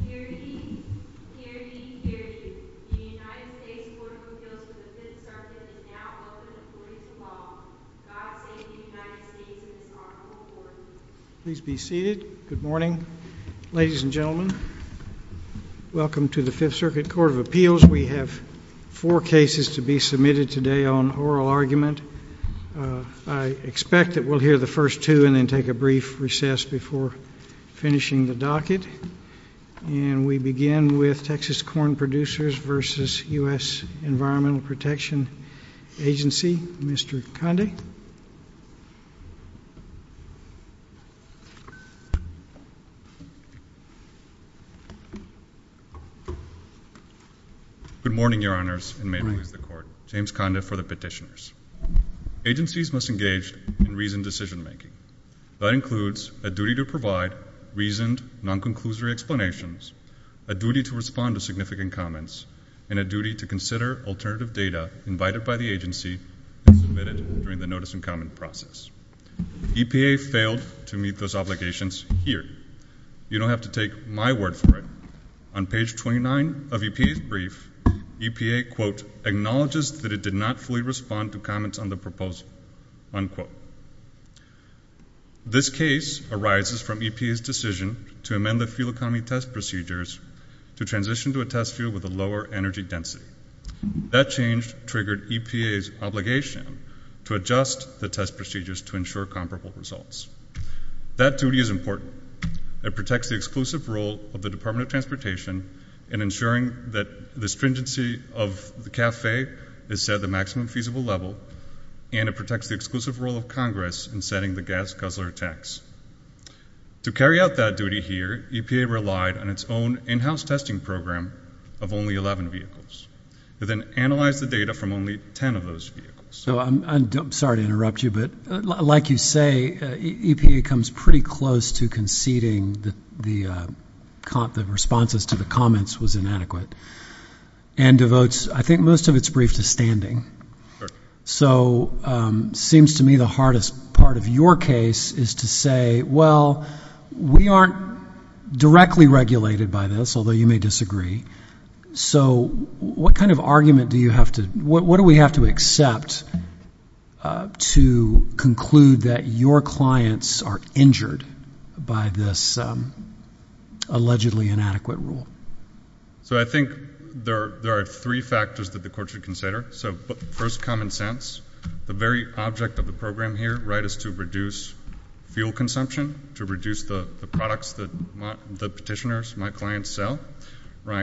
The United States Court of Appeals for the Fifth Circuit is now open for reading tomorrow. God save the United States and its Honorable Court. And we begin with Texas Corn Producers v. U.S. Environmental Protection Agency. Mr. Conde. Good morning, Your Honors, and may it please the Court. James Conde for the petitioners. Agencies must engage in reasoned decision-making. That includes a duty to provide reasoned, non-conclusory explanations, a duty to respond to significant comments, and a duty to consider alternative data invited by the agency and submitted during the notice and comment process. EPA failed to meet those obligations here. You don't have to take my word for it. On page 29 of EPA's brief, EPA, quote, acknowledges that it did not fully respond to comments on the proposal, unquote. This case arises from EPA's decision to amend the fuel economy test procedures to transition to a test fuel with a lower energy density. That change triggered EPA's obligation to adjust the test procedures to ensure comparable results. That duty is important. It protects the exclusive role of the Department of Transportation in ensuring that the stringency of the CAFE is set at the maximum feasible level, and it protects the exclusive role of Congress in setting the gas guzzler tax. To carry out that duty here, EPA relied on its own in-house testing program of only 11 vehicles. It then analyzed the data from only 10 of those vehicles. So I'm sorry to interrupt you, but like you say, EPA comes pretty close to conceding that the responses to the comments was inadequate and devotes, I think, most of its brief to standing. So it seems to me the hardest part of your case is to say, well, we aren't directly regulated by this, although you may disagree. So what kind of argument do you have to—what do we have to accept to conclude that your clients are injured by this allegedly inadequate rule? So I think there are three factors that the court should consider. So first, common sense. The very object of the program here is to reduce fuel consumption, to reduce the products that the petitioners, my clients, sell.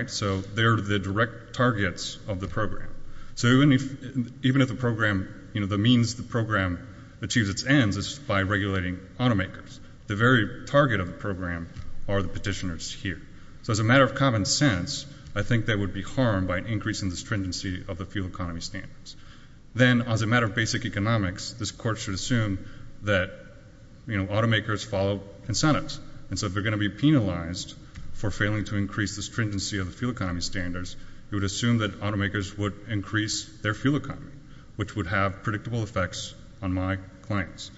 So they're the direct targets of the program. So even if the program—the means the program achieves its ends is by regulating automakers. The very target of the program are the petitioners here. So as a matter of common sense, I think they would be harmed by an increase in the stringency of the fuel economy standards. Then, as a matter of basic economics, this court should assume that automakers follow incentives. And so if they're going to be penalized for failing to increase the stringency of the fuel economy standards, it would assume that automakers would increase their fuel economy, which would have predictable effects on my clients.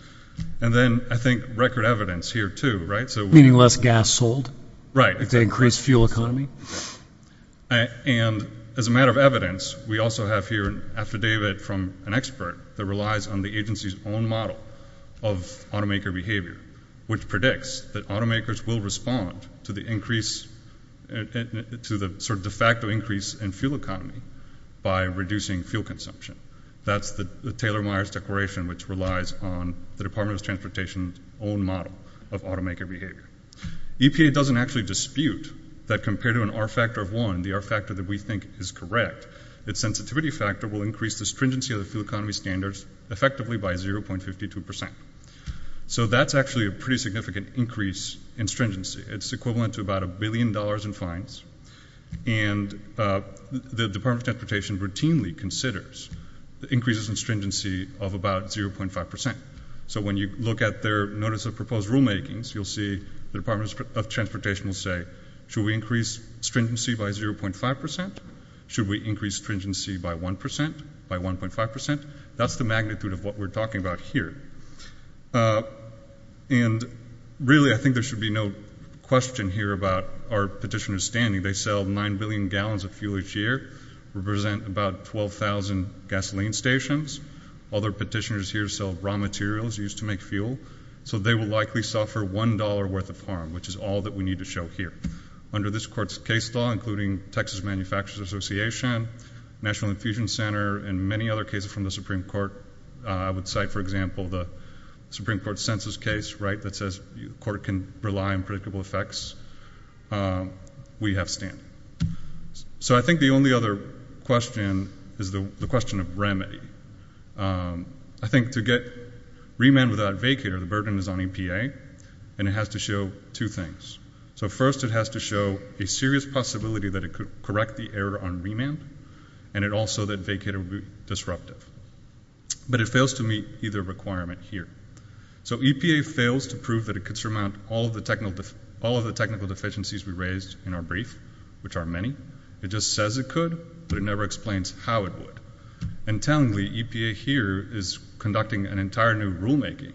And then I think record evidence here, too, right? Meaning less gas sold? Right. If they increase fuel economy? And as a matter of evidence, we also have here an affidavit from an expert that relies on the agency's own model of automaker behavior, which predicts that automakers will respond to the increase—to the sort of de facto increase in fuel economy by reducing fuel consumption. That's the Taylor-Meyers Declaration, which relies on the Department of Transportation's own model of automaker behavior. EPA doesn't actually dispute that compared to an R factor of 1, the R factor that we think is correct, its sensitivity factor will increase the stringency of the fuel economy standards effectively by 0.52 percent. So that's actually a pretty significant increase in stringency. It's equivalent to about a billion dollars in fines, and the Department of Transportation routinely considers increases in stringency of about 0.5 percent. So when you look at their Notice of Proposed Rulemakings, you'll see the Department of Transportation will say, should we increase stringency by 0.5 percent? Should we increase stringency by 1 percent? By 1.5 percent? That's the magnitude of what we're talking about here. And really, I think there should be no question here about our petitioners standing. They sell 9 billion gallons of fuel each year, represent about 12,000 gasoline stations. All their petitioners here sell raw materials used to make fuel. So they will likely suffer $1 worth of harm, which is all that we need to show here. Under this court's case law, including Texas Manufacturers Association, National Infusion Center, and many other cases from the Supreme Court, I would cite, for example, the Supreme Court census case, right, that says the court can rely on predictable effects. We have standing. So I think the only other question is the question of remedy. I think to get remand without vacater, the burden is on EPA, and it has to show two things. So first, it has to show a serious possibility that it could correct the error on remand, and also that vacater would be disruptive. But it fails to meet either requirement here. So EPA fails to prove that it could surmount all of the technical deficiencies we raised in our brief, which are many. It just says it could, but it never explains how it would. And tellingly, EPA here is conducting an entire new rulemaking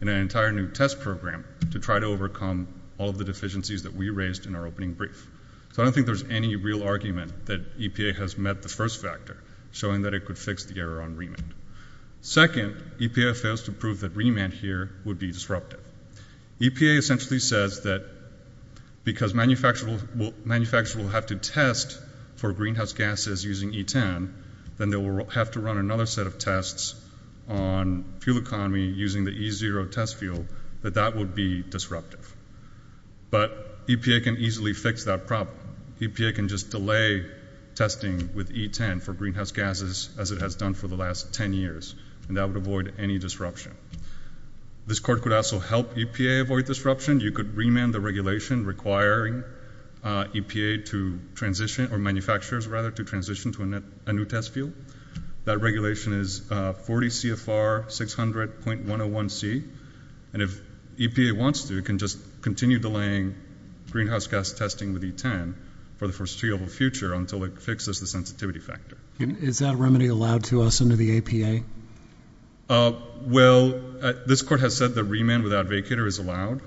and an entire new test program to try to overcome all of the deficiencies that we raised in our opening brief. So I don't think there's any real argument that EPA has met the first factor, showing that it could fix the error on remand. Second, EPA fails to prove that remand here would be disruptive. EPA essentially says that because manufacturers will have to test for greenhouse gases using E10, then they will have to run another set of tests on fuel economy using the E0 test fuel, that that would be disruptive. But EPA can easily fix that problem. EPA can just delay testing with E10 for greenhouse gases as it has done for the last ten years, and that would avoid any disruption. This court could also help EPA avoid disruption. You could remand the regulation requiring EPA to transition, or manufacturers, rather, to transition to a new test fuel. That regulation is 40 CFR 600.101C. And if EPA wants to, it can just continue delaying greenhouse gas testing with E10 for the foreseeable future until it fixes the sensitivity factor. Is that remedy allowed to us under the EPA? Well, this court has said that remand without vacater is allowed,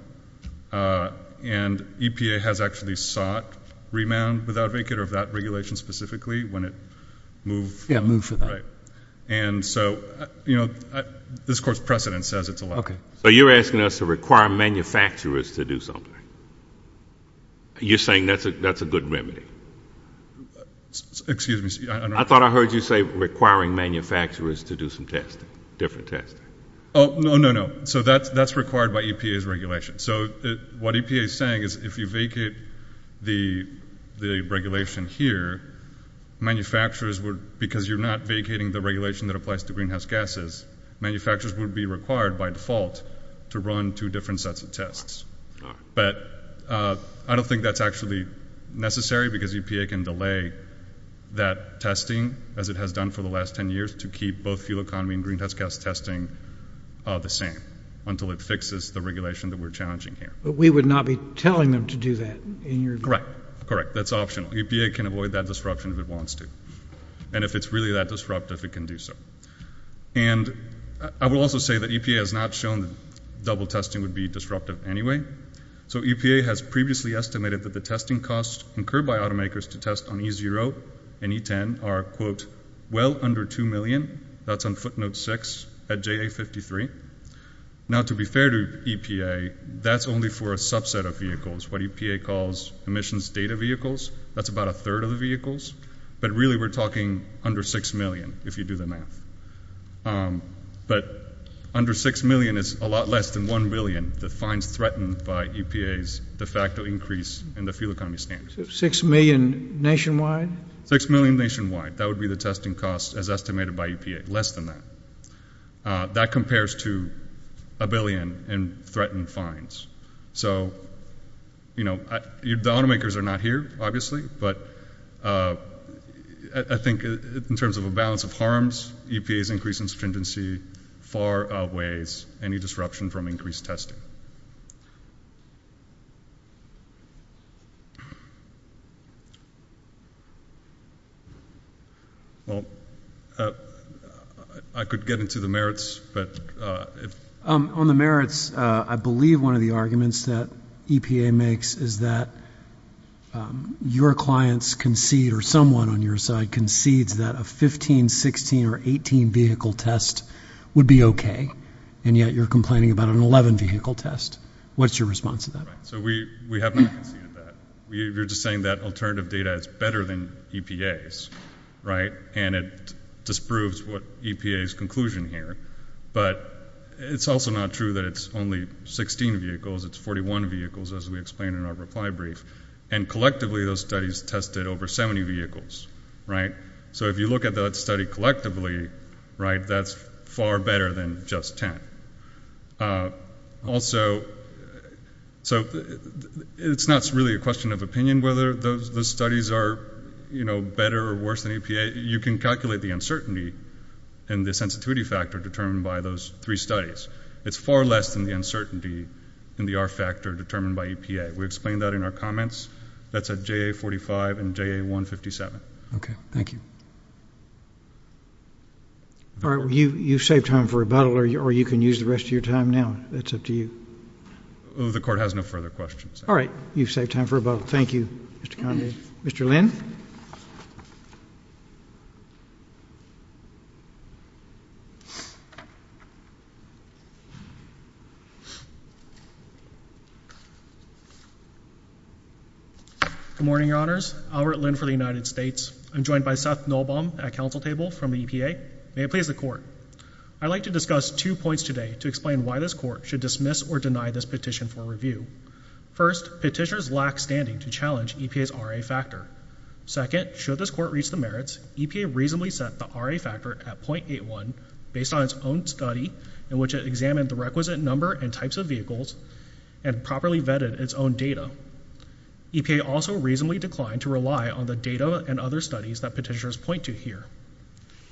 and EPA has actually sought remand without vacater of that regulation specifically when it moved. Yeah, moved for that. Right. And so, you know, this court's precedent says it's allowed. Okay. So you're asking us to require manufacturers to do something? You're saying that's a good remedy? Excuse me. I thought I heard you say requiring manufacturers to do some testing, different testing. Oh, no, no, no. So that's required by EPA's regulation. So what EPA is saying is if you vacate the regulation here, manufacturers would, because you're not vacating the regulation that applies to greenhouse gases, manufacturers would be required by default to run two different sets of tests. But I don't think that's actually necessary because EPA can delay that testing, as it has done for the last 10 years, to keep both fuel economy and greenhouse gas testing the same until it fixes the regulation that we're challenging here. But we would not be telling them to do that in your view? Correct. Correct. That's optional. EPA can avoid that disruption if it wants to. And if it's really that disruptive, it can do so. And I will also say that EPA has not shown that double testing would be disruptive anyway. So EPA has previously estimated that the testing costs incurred by automakers to test on E0 and E10 are, quote, well under $2 million. That's on footnote 6 at JA53. Now, to be fair to EPA, that's only for a subset of vehicles, what EPA calls emissions data vehicles. That's about a third of the vehicles. But really we're talking under $6 million, if you do the math. But under $6 million is a lot less than $1 billion, the fines threatened by EPA's de facto increase in the fuel economy standards. So $6 million nationwide? $6 million nationwide. That would be the testing costs as estimated by EPA, less than that. That compares to $1 billion in threatened fines. So, you know, the automakers are not here, obviously, but I think in terms of a balance of harms, EPA's increase in stringency far outweighs any disruption from increased testing. Well, I could get into the merits, but if ‑‑ On the merits, I believe one of the arguments that EPA makes is that your clients concede or someone on your side concedes that a 15, 16, or 18 vehicle test would be okay, and yet you're complaining about an 11 vehicle test. What's your response to that? So we have not conceded that. You're just saying that alternative data is better than EPA's, right? And it disproves what EPA's conclusion here. But it's also not true that it's only 16 vehicles. It's 41 vehicles, as we explained in our reply brief. And collectively, those studies tested over 70 vehicles, right? So if you look at that study collectively, right, that's far better than just 10. Also, so it's not really a question of opinion whether those studies are, you know, better or worse than EPA. You can calculate the uncertainty and the sensitivity factor determined by those three studies. It's far less than the uncertainty and the R factor determined by EPA. We explained that in our comments. That's at JA45 and JA157. Okay. Thank you. All right. You've saved time for rebuttal, or you can use the rest of your time now. That's up to you. The court has no further questions. All right. You've saved time for rebuttal. Thank you, Mr. Condie. Thank you. Mr. Lin. Good morning, Your Honors. Albert Lin for the United States. I'm joined by Seth Nolbaum at counsel table from the EPA. May it please the Court. I'd like to discuss two points today to explain why this Court should dismiss or deny this petition for review. First, petitioners lack standing to challenge EPA's R.A. factor. Second, should this Court reach the merits, EPA reasonably set the R.A. factor at .81, based on its own study in which it examined the requisite number and types of vehicles and properly vetted its own data. EPA also reasonably declined to rely on the data and other studies that petitioners point to here.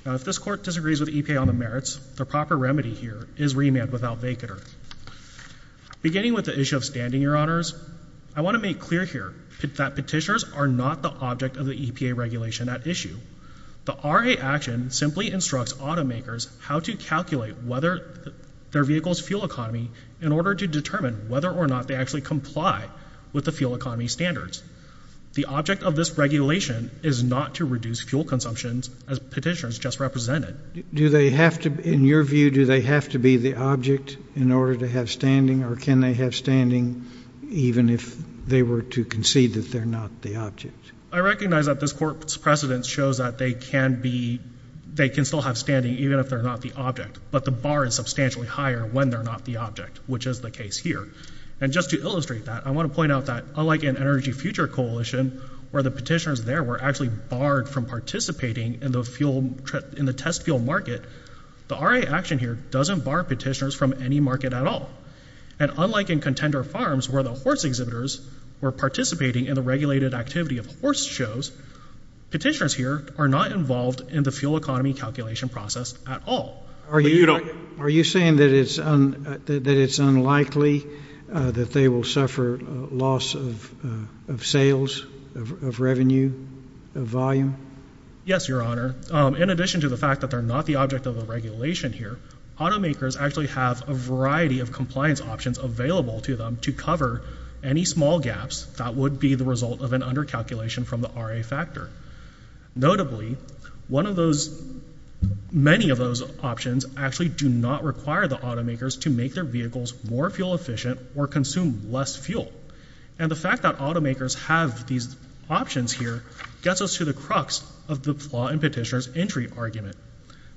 Now, if this Court disagrees with EPA on the merits, the proper remedy here is remand without vacater. Beginning with the issue of standing, Your Honors, I want to make clear here that petitioners are not the object of the EPA regulation at issue. The R.A. action simply instructs automakers how to calculate whether their vehicle's fuel economy in order to determine whether or not they actually comply with the fuel economy standards. The object of this regulation is not to reduce fuel consumptions, as petitioners just represented. Do they have to, in your view, do they have to be the object in order to have standing, or can they have standing even if they were to concede that they're not the object? I recognize that this Court's precedent shows that they can be, they can still have standing even if they're not the object, but the bar is substantially higher when they're not the object, which is the case here. And just to illustrate that, I want to point out that, unlike in Energy Future Coalition, where the petitioners there were actually barred from participating in the test fuel market, the R.A. action here doesn't bar petitioners from any market at all. And unlike in Contender Farms, where the horse exhibitors were participating in the regulated activity of horse shows, petitioners here are not involved in the fuel economy calculation process at all. Are you saying that it's unlikely that they will suffer loss of sales, of revenue, of volume? Yes, Your Honor. In addition to the fact that they're not the object of the regulation here, automakers actually have a variety of compliance options available to them to cover any small gaps that would be the result of an under-calculation from the R.A. factor. Notably, many of those options actually do not require the automakers to make their vehicles more fuel efficient or consume less fuel. And the fact that automakers have these options here gets us to the crux of the flaw in petitioner's entry argument.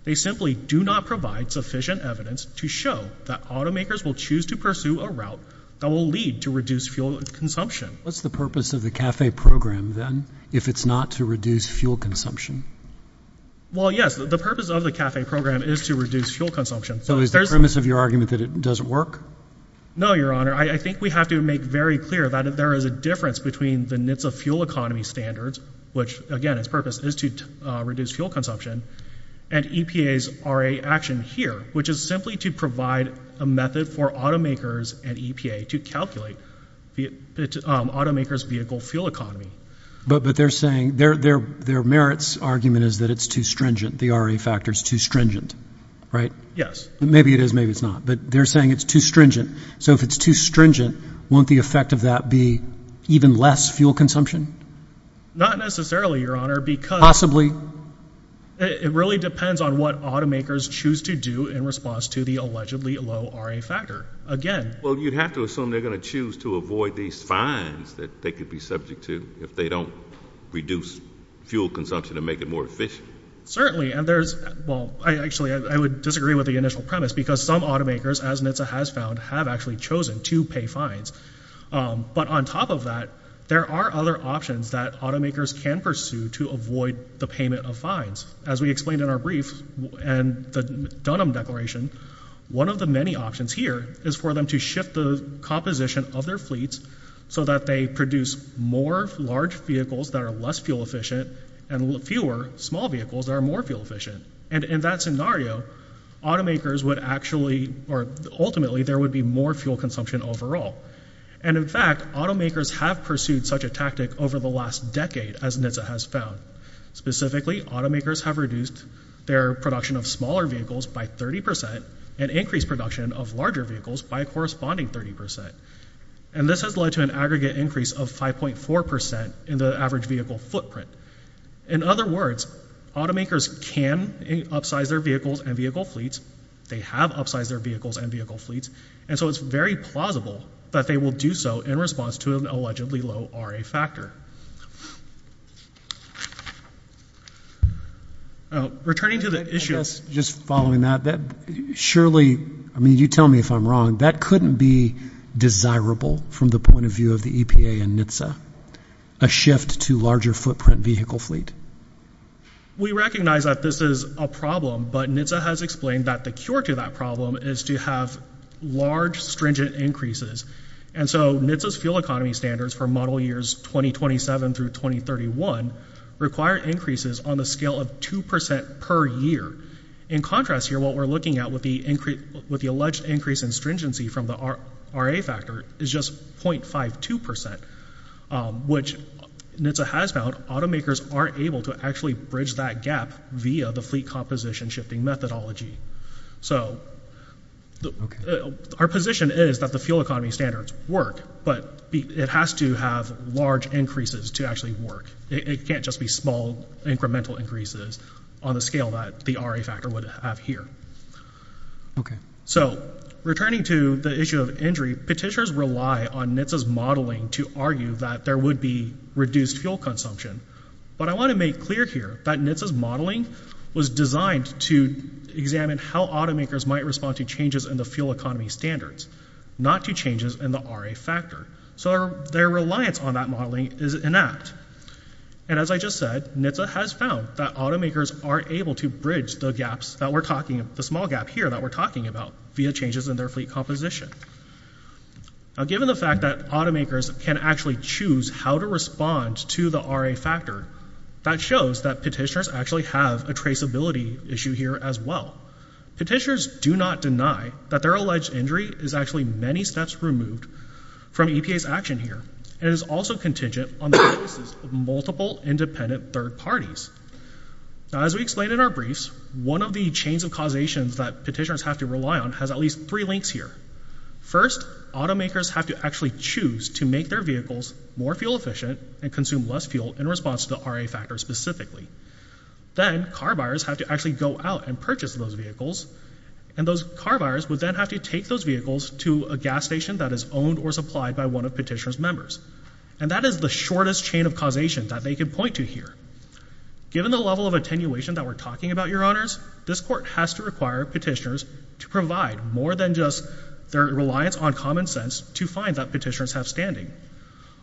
They simply do not provide sufficient evidence to show that automakers will choose to pursue a route that will lead to reduced fuel consumption. What's the purpose of the CAFE program, then, if it's not to reduce fuel consumption? Well, yes, the purpose of the CAFE program is to reduce fuel consumption. So is the premise of your argument that it doesn't work? No, Your Honor. I think we have to make very clear that there is a difference between the NHTSA fuel economy standards, which, again, its purpose is to reduce fuel consumption, and EPA's R.A. action here, which is simply to provide a method for automakers and EPA to calculate automakers' vehicle fuel economy. But they're saying their merits argument is that it's too stringent, the R.A. factor is too stringent, right? Yes. Maybe it is, maybe it's not. But they're saying it's too stringent. So if it's too stringent, won't the effect of that be even less fuel consumption? Not necessarily, Your Honor, because— Possibly. It really depends on what automakers choose to do in response to the allegedly low R.A. factor. Again— Well, you'd have to assume they're going to choose to avoid these fines that they could be subject to if they don't reduce fuel consumption and make it more efficient. Certainly, and there's—well, actually, I would disagree with the initial premise, because some automakers, as NHTSA has found, have actually chosen to pay fines. But on top of that, there are other options that automakers can pursue to avoid the payment of fines. As we explained in our brief and the Dunham Declaration, one of the many options here is for them to shift the composition of their fleets so that they produce more large vehicles that are less fuel efficient and fewer small vehicles that are more fuel efficient. And in that scenario, automakers would actually— or ultimately, there would be more fuel consumption overall. And in fact, automakers have pursued such a tactic over the last decade, as NHTSA has found. Specifically, automakers have reduced their production of smaller vehicles by 30 percent and increased production of larger vehicles by a corresponding 30 percent. And this has led to an aggregate increase of 5.4 percent in the average vehicle footprint. In other words, automakers can upsize their vehicles and vehicle fleets. They have upsized their vehicles and vehicle fleets. And so it's very plausible that they will do so in response to an allegedly low RA factor. Returning to the issue— I guess just following that, surely—I mean, you tell me if I'm wrong. That couldn't be desirable from the point of view of the EPA and NHTSA, a shift to larger footprint vehicle fleet. We recognize that this is a problem, but NHTSA has explained that the cure to that problem is to have large stringent increases. And so NHTSA's fuel economy standards for model years 2027 through 2031 require increases on the scale of 2 percent per year. In contrast here, what we're looking at with the alleged increase in stringency from the RA factor is just 0.52 percent, which NHTSA has found automakers aren't able to actually bridge that gap via the fleet composition shifting methodology. So our position is that the fuel economy standards work, but it has to have large increases to actually work. It can't just be small incremental increases on the scale that the RA factor would have here. So returning to the issue of injury, petitioners rely on NHTSA's modeling to argue that there would be reduced fuel consumption. But I want to make clear here that NHTSA's modeling was designed to examine how automakers might respond to changes in the fuel economy standards, not to changes in the RA factor. So their reliance on that modeling is inept. And as I just said, NHTSA has found that automakers aren't able to bridge the gaps that we're talking about, the small gap here that we're talking about, via changes in their fleet composition. Now given the fact that automakers can actually choose how to respond to the RA factor, that shows that petitioners actually have a traceability issue here as well. Petitioners do not deny that their alleged injury is actually many steps removed from EPA's action here. It is also contingent on the choices of multiple independent third parties. Now as we explained in our briefs, one of the chains of causations that petitioners have to rely on has at least three links here. First, automakers have to actually choose to make their vehicles more fuel efficient and consume less fuel in response to the RA factor specifically. Then, car buyers have to actually go out and purchase those vehicles, and those car buyers would then have to take those vehicles to a gas station that is owned or supplied by one of petitioner's members. And that is the shortest chain of causation that they can point to here. Given the level of attenuation that we're talking about, Your Honors, this court has to require petitioners to provide more than just their reliance on common sense to find that petitioners have standing.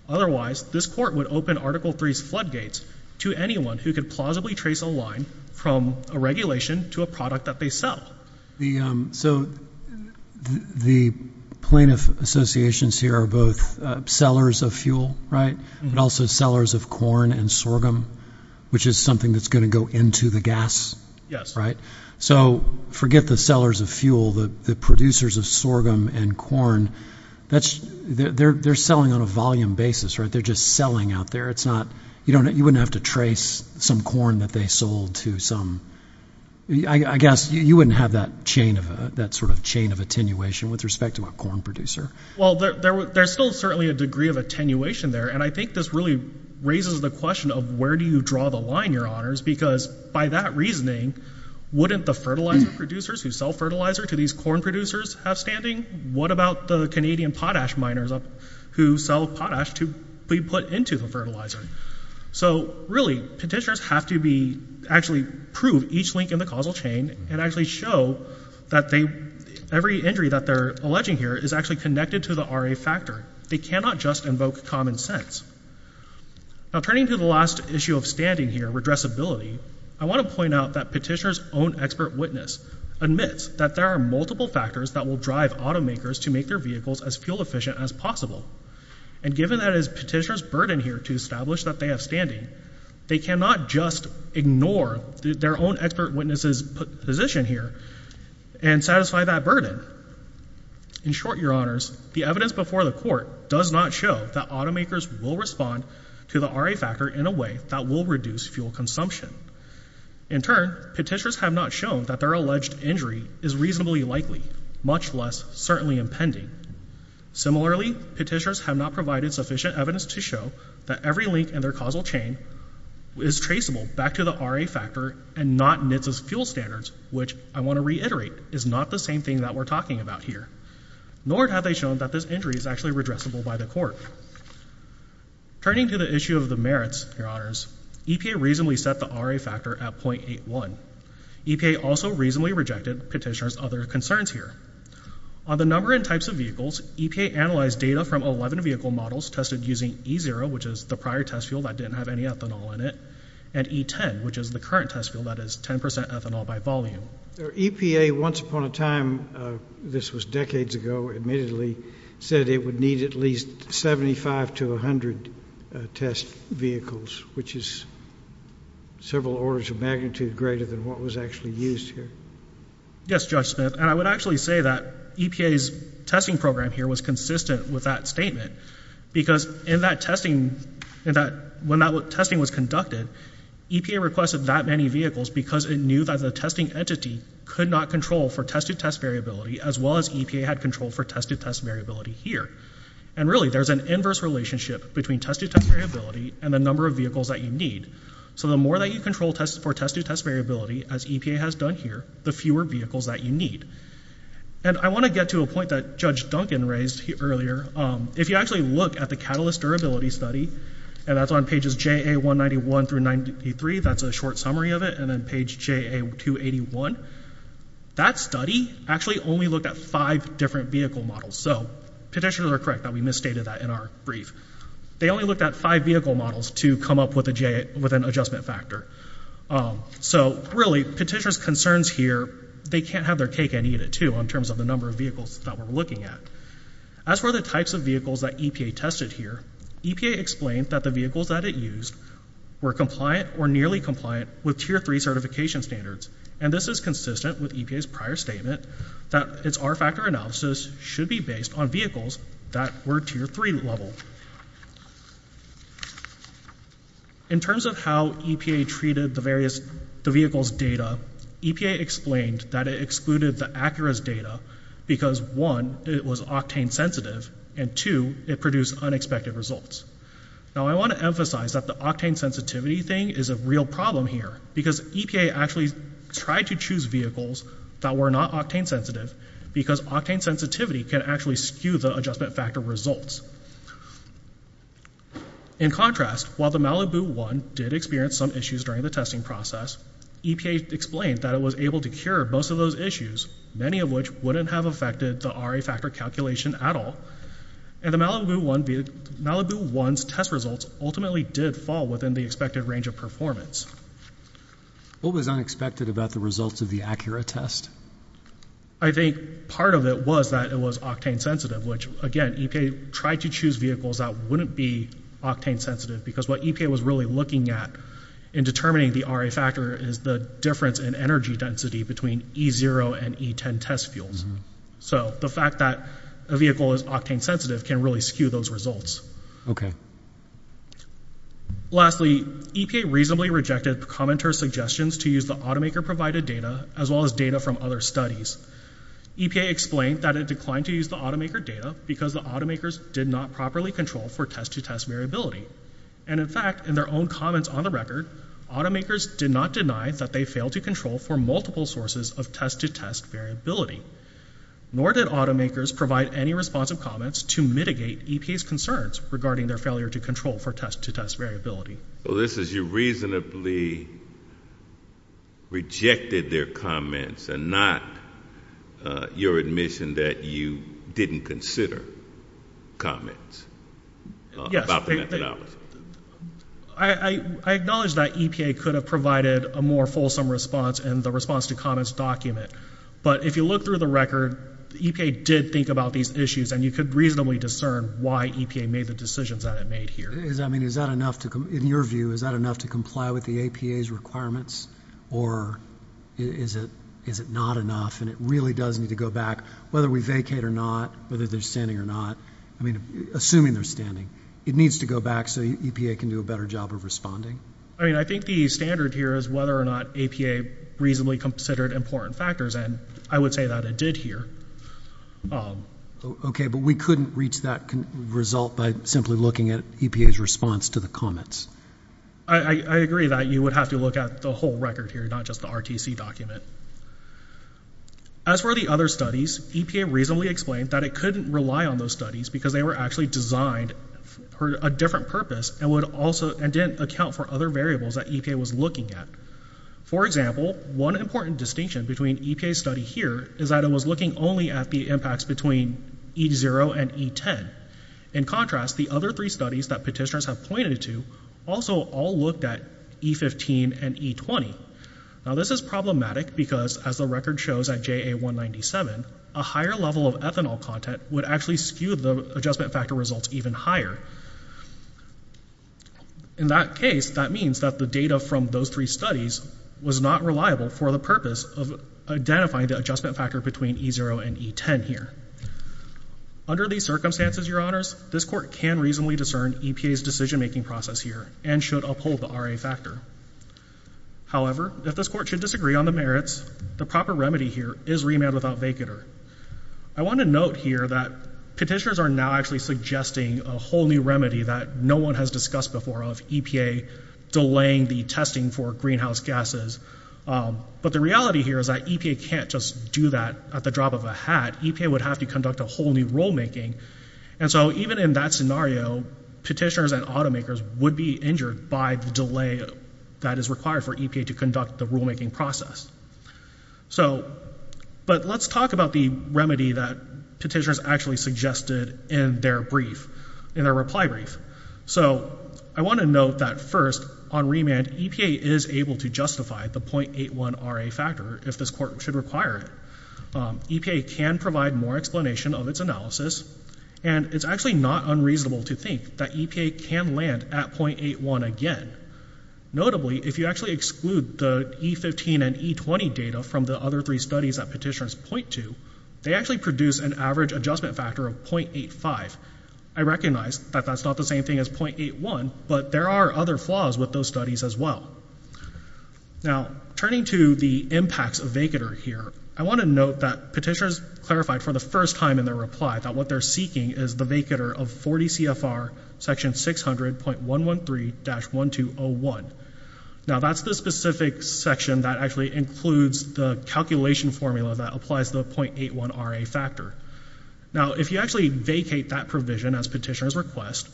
Otherwise, this court would open Article III's floodgates to anyone who could plausibly trace a line from a regulation to a product that they sell. So the plaintiff associations here are both sellers of fuel, right, but also sellers of corn and sorghum, which is something that's going to go into the gas, right? So forget the sellers of fuel. The producers of sorghum and corn, they're selling on a volume basis, right? They're just selling out there. You wouldn't have to trace some corn that they sold to some— I guess you wouldn't have that sort of chain of attenuation with respect to a corn producer. Well, there's still certainly a degree of attenuation there, and I think this really raises the question of where do you draw the line, Your Honors, because by that reasoning, wouldn't the fertilizer producers who sell fertilizer to these corn producers have standing? What about the Canadian potash miners who sell potash to be put into the fertilizer? So really, petitioners have to actually prove each link in the causal chain and actually show that every injury that they're alleging here is actually connected to the RA factor. They cannot just invoke common sense. Now, turning to the last issue of standing here, redressability, I want to point out that petitioner's own expert witness admits that there are multiple factors that will drive automakers to make their vehicles as fuel-efficient as possible, and given that it is petitioner's burden here to establish that they have standing, they cannot just ignore their own expert witness's position here and satisfy that burden. In short, Your Honors, the evidence before the court does not show that automakers will respond to the RA factor in a way that will reduce fuel consumption. In turn, petitioners have not shown that their alleged injury is reasonably likely, much less certainly impending. Similarly, petitioners have not provided sufficient evidence to show that every link in their causal chain is traceable back to the RA factor and not NHTSA's fuel standards, which I want to reiterate is not the same thing that we're talking about here, nor have they shown that this injury is actually redressable by the court. Turning to the issue of the merits, Your Honors, EPA reasonably set the RA factor at .81. EPA also reasonably rejected petitioner's other concerns here. On the number and types of vehicles, EPA analyzed data from 11 vehicle models tested using E0, which is the prior test fuel that didn't have any ethanol in it, and E10, which is the current test fuel that is 10% ethanol by volume. EPA, once upon a time, this was decades ago, admittedly, said it would need at least 75 to 100 test vehicles, which is several orders of magnitude greater than what was actually used here. Yes, Judge Smith, and I would actually say that EPA's testing program here was consistent with that statement because when that testing was conducted, EPA requested that many vehicles because it knew that the testing entity could not control for test-to-test variability as well as EPA had control for test-to-test variability here. And really, there's an inverse relationship between test-to-test variability and the number of vehicles that you need. So the more that you control for test-to-test variability, as EPA has done here, the fewer vehicles that you need. And I want to get to a point that Judge Duncan raised earlier. If you actually look at the Catalyst Durability Study, and that's on pages JA191 through 93, that's a short summary of it, and then page JA281, that study actually only looked at five different vehicle models. So petitioners are correct that we misstated that in our brief. They only looked at five vehicle models to come up with an adjustment factor. So really, petitioners' concerns here, they can't have their cake and eat it too in terms of the number of vehicles that we're looking at. As for the types of vehicles that EPA tested here, EPA explained that the vehicles that it used were compliant or nearly compliant with Tier 3 certification standards. And this is consistent with EPA's prior statement that its R factor analysis should be based on vehicles that were Tier 3 level. In terms of how EPA treated the vehicle's data, EPA explained that it excluded the ACCURA's data because, one, it was octane sensitive, and, two, it produced unexpected results. Now, I want to emphasize that the octane sensitivity thing is a real problem here because EPA actually tried to choose vehicles that were not octane sensitive because octane sensitivity can actually skew the adjustment factor results. In contrast, while the Malibu One did experience some issues during the testing process, EPA explained that it was able to cure most of those issues, many of which wouldn't have affected the RA factor calculation at all. And the Malibu One's test results ultimately did fall within the expected range of performance. What was unexpected about the results of the ACCURA test? I think part of it was that it was octane sensitive, which, again, EPA tried to choose vehicles that wouldn't be octane sensitive because what EPA was really looking at in determining the RA factor is the difference in energy density between E0 and E10 test fuels. So the fact that a vehicle is octane sensitive can really skew those results. Okay. Lastly, EPA reasonably rejected the commenter's suggestions to use the automaker-provided data as well as data from other studies. EPA explained that it declined to use the automaker data because the automakers did not properly control for test-to-test variability. And, in fact, in their own comments on the record, automakers did not deny that they failed to control for multiple sources of test-to-test variability, nor did automakers provide any responsive comments to mitigate EPA's concerns regarding their failure to control for test-to-test variability. So this is you reasonably rejected their comments and not your admission that you didn't consider comments about the methodology. I acknowledge that EPA could have provided a more fulsome response in the response-to-comments document. But if you look through the record, EPA did think about these issues, and you could reasonably discern why EPA made the decisions that it made here. In your view, is that enough to comply with the APA's requirements, or is it not enough and it really does need to go back, whether we vacate or not, whether they're standing or not, assuming they're standing, it needs to go back so EPA can do a better job of responding? I think the standard here is whether or not APA reasonably considered important factors, and I would say that it did here. Okay, but we couldn't reach that result by simply looking at EPA's response to the comments. I agree that you would have to look at the whole record here, not just the RTC document. As for the other studies, EPA reasonably explained that it couldn't rely on those studies because they were actually designed for a different purpose and didn't account for other variables that EPA was looking at. For example, one important distinction between EPA's study here is that it was looking only at the impacts between E0 and E10. In contrast, the other three studies that petitioners have pointed to also all looked at E15 and E20. Now, this is problematic because, as the record shows at JA197, a higher level of ethanol content would actually skew the adjustment factor results even higher. In that case, that means that the data from those three studies was not reliable for the purpose of identifying the adjustment factor between E0 and E10 here. Under these circumstances, Your Honors, this Court can reasonably discern EPA's decision-making process here and should uphold the RA factor. However, if this Court should disagree on the merits, the proper remedy here is remand without vacater. I want to note here that petitioners are now actually suggesting a whole new remedy that no one has discussed before of EPA delaying the testing for greenhouse gases. But the reality here is that EPA can't just do that at the drop of a hat. EPA would have to conduct a whole new rulemaking. And so even in that scenario, petitioners and automakers would be injured by the delay that is required for EPA to conduct the rulemaking process. But let's talk about the remedy that petitioners actually suggested in their reply brief. So I want to note that first, on remand, EPA is able to justify the 0.81 RA factor if this Court should require it. EPA can provide more explanation of its analysis, and it's actually not unreasonable to think that EPA can land at 0.81 again. Notably, if you actually exclude the E15 and E20 data from the other three studies that petitioners point to, they actually produce an average adjustment factor of 0.85. I recognize that that's not the same thing as 0.81, but there are other flaws with those studies as well. Now, turning to the impacts of vacater here, I want to note that petitioners clarified for the first time in their reply that what they're seeking is the vacater of 40 CFR section 600.113-1201. Now, that's the specific section that actually includes the calculation formula that applies the 0.81 RA factor. Now, if you actually vacate that provision as petitioners request,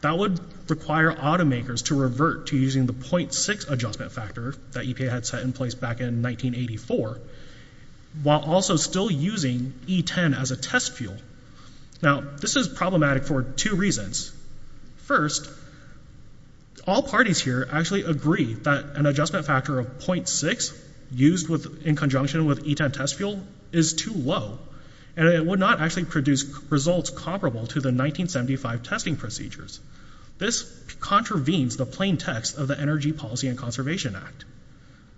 that would require automakers to revert to using the 0.6 adjustment factor that EPA had set in place back in 1984, while also still using E10 as a test fuel. Now, this is problematic for two reasons. First, all parties here actually agree that an adjustment factor of 0.6 used in conjunction with E10 test fuel is too low, and it would not actually produce results comparable to the 1975 testing procedures. This contravenes the plain text of the Energy Policy and Conservation Act.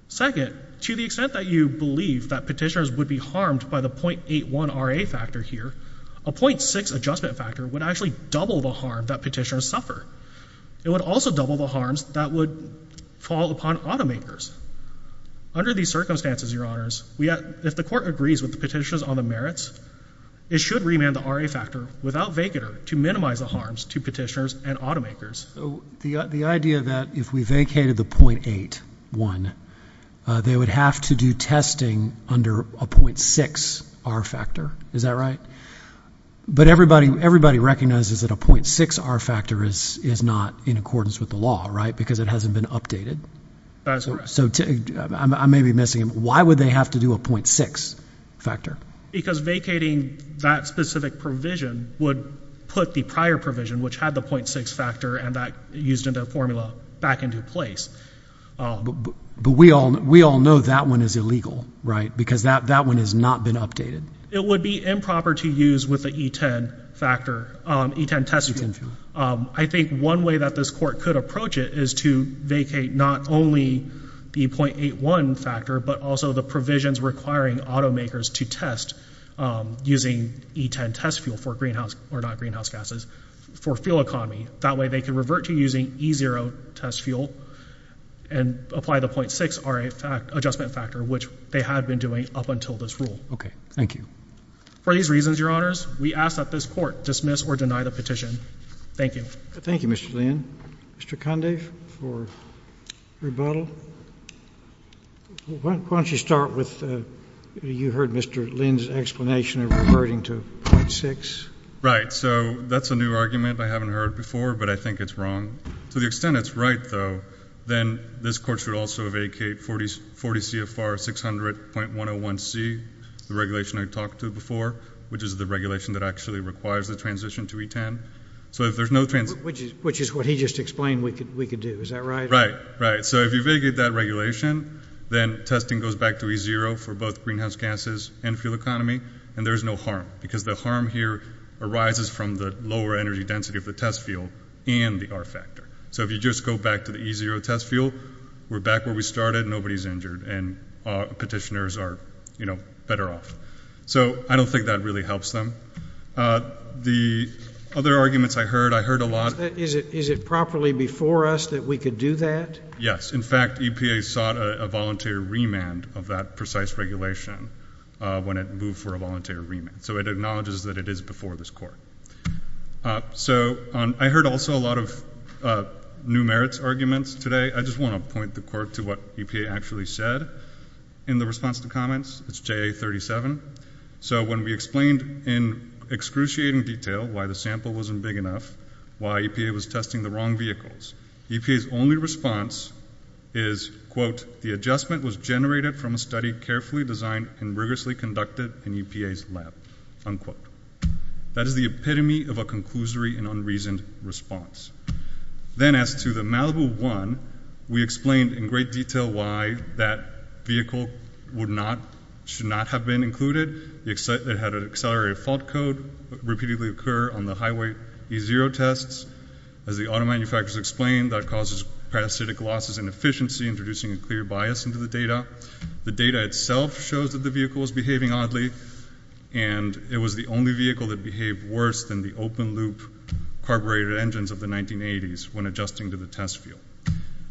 Second, to the extent that you believe that petitioners would be harmed by the 0.81 RA factor here, a 0.6 adjustment factor would actually double the harm that petitioners suffer. It would also double the harms that would fall upon automakers. Under these circumstances, Your Honors, if the court agrees with the petitioners on the merits, it should remand the RA factor without vacater to minimize the harms to petitioners and automakers. The idea that if we vacated the 0.81, they would have to do testing under a 0.6 RA factor. Is that right? But everybody recognizes that a 0.6 RA factor is not in accordance with the law, right, because it hasn't been updated. That's correct. So I may be missing it. Why would they have to do a 0.6 factor? Because vacating that specific provision would put the prior provision, which had the 0.6 factor and that used in the formula, back into place. But we all know that one is illegal, right, because that one has not been updated. It would be improper to use with the E10 factor, E10 test fuel. I think one way that this court could approach it is to vacate not only the 0.81 factor but also the provisions requiring automakers to test using E10 test fuel for greenhouse or not greenhouse gases, for fuel economy. That way they can revert to using E0 test fuel and apply the 0.6 RA adjustment factor, which they had been doing up until this rule. Okay. Thank you. For these reasons, Your Honors, we ask that this court dismiss or deny the petition. Thank you. Thank you, Mr. Lynn. Mr. Conde for rebuttal. Why don't you start with you heard Mr. Lynn's explanation of reverting to 0.6. Right. So that's a new argument I haven't heard before, but I think it's wrong. To the extent it's right, though, then this court should also vacate 40 CFR 600.101C, the regulation I talked to before, which is the regulation that actually requires the transition to E10. Which is what he just explained we could do. Is that right? Right. Right. So if you vacate that regulation, then testing goes back to E0 for both greenhouse gases and fuel economy, and there's no harm because the harm here arises from the lower energy density of the test fuel and the R factor. So if you just go back to the E0 test fuel, we're back where we started, nobody's injured, and petitioners are better off. So I don't think that really helps them. The other arguments I heard, I heard a lot. Is it properly before us that we could do that? Yes. In fact, EPA sought a voluntary remand of that precise regulation when it moved for a voluntary remand. So it acknowledges that it is before this court. So I heard also a lot of new merits arguments today. I just want to point the court to what EPA actually said in the response to comments. It's JA37. So when we explained in excruciating detail why the sample wasn't big enough, why EPA was testing the wrong vehicles, EPA's only response is, quote, the adjustment was generated from a study carefully designed and rigorously conducted in EPA's lab, unquote. That is the epitome of a conclusory and unreasoned response. Then as to the Malibu 1, we explained in great detail why that vehicle should not have been included. It had an accelerated fault code repeatedly occur on the highway E0 tests. As the auto manufacturers explained, that causes parasitic losses in efficiency, introducing a clear bias into the data. The data itself shows that the vehicle was behaving oddly, and it was the only vehicle that behaved worse than the open-loop carbureted engines of the 1980s when adjusting to the test field.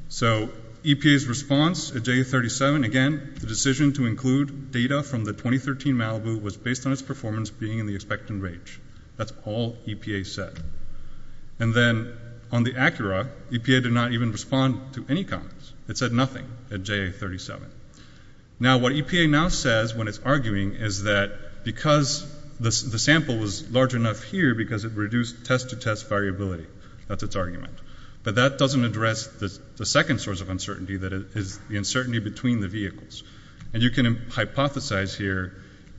So EPA's response at JA37, again, the decision to include data from the 2013 Malibu was based on its performance being in the expectant range. That's all EPA said. And then on the Acura, EPA did not even respond to any comments. It said nothing at JA37. Now what EPA now says when it's arguing is that because the sample was large enough here because it reduced test-to-test variability. That's its argument. But that doesn't address the second source of uncertainty, that is the uncertainty between the vehicles. And you can hypothesize here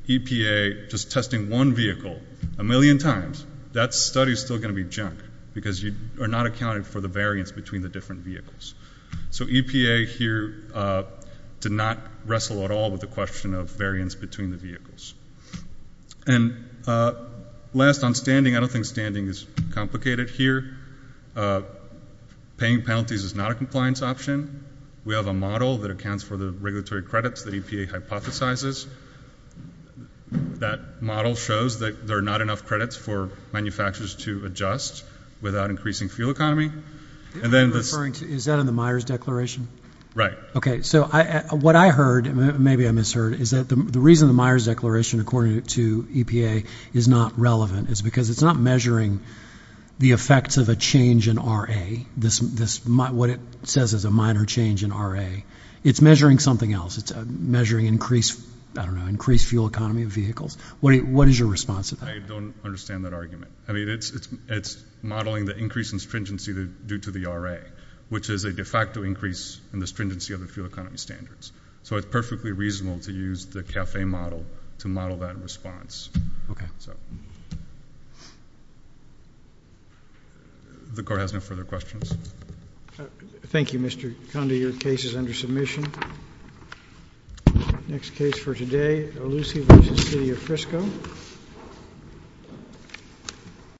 EPA just testing one vehicle a million times, that study is still going to be junk because you are not accounting for the variance between the different vehicles. So EPA here did not wrestle at all with the question of variance between the vehicles. And last on standing, I don't think standing is complicated here. Paying penalties is not a compliance option. We have a model that accounts for the regulatory credits that EPA hypothesizes. That model shows that there are not enough credits for manufacturers to adjust without increasing fuel economy. Is that in the Myers Declaration? Right. Okay, so what I heard, maybe I misheard, is that the reason the Myers Declaration according to EPA is not relevant is because it's not measuring the effects of a change in RA. What it says is a minor change in RA. It's measuring something else. It's measuring increased, I don't know, increased fuel economy of vehicles. What is your response to that? I don't understand that argument. I mean it's modeling the increase in stringency due to the RA, which is a de facto increase in the stringency of the fuel economy standards. So it's perfectly reasonable to use the CAFE model to model that response. Okay. The Court has no further questions. Thank you, Mr. Condi. Your case is under submission. Next case for today, Olusi v. City of Frisco.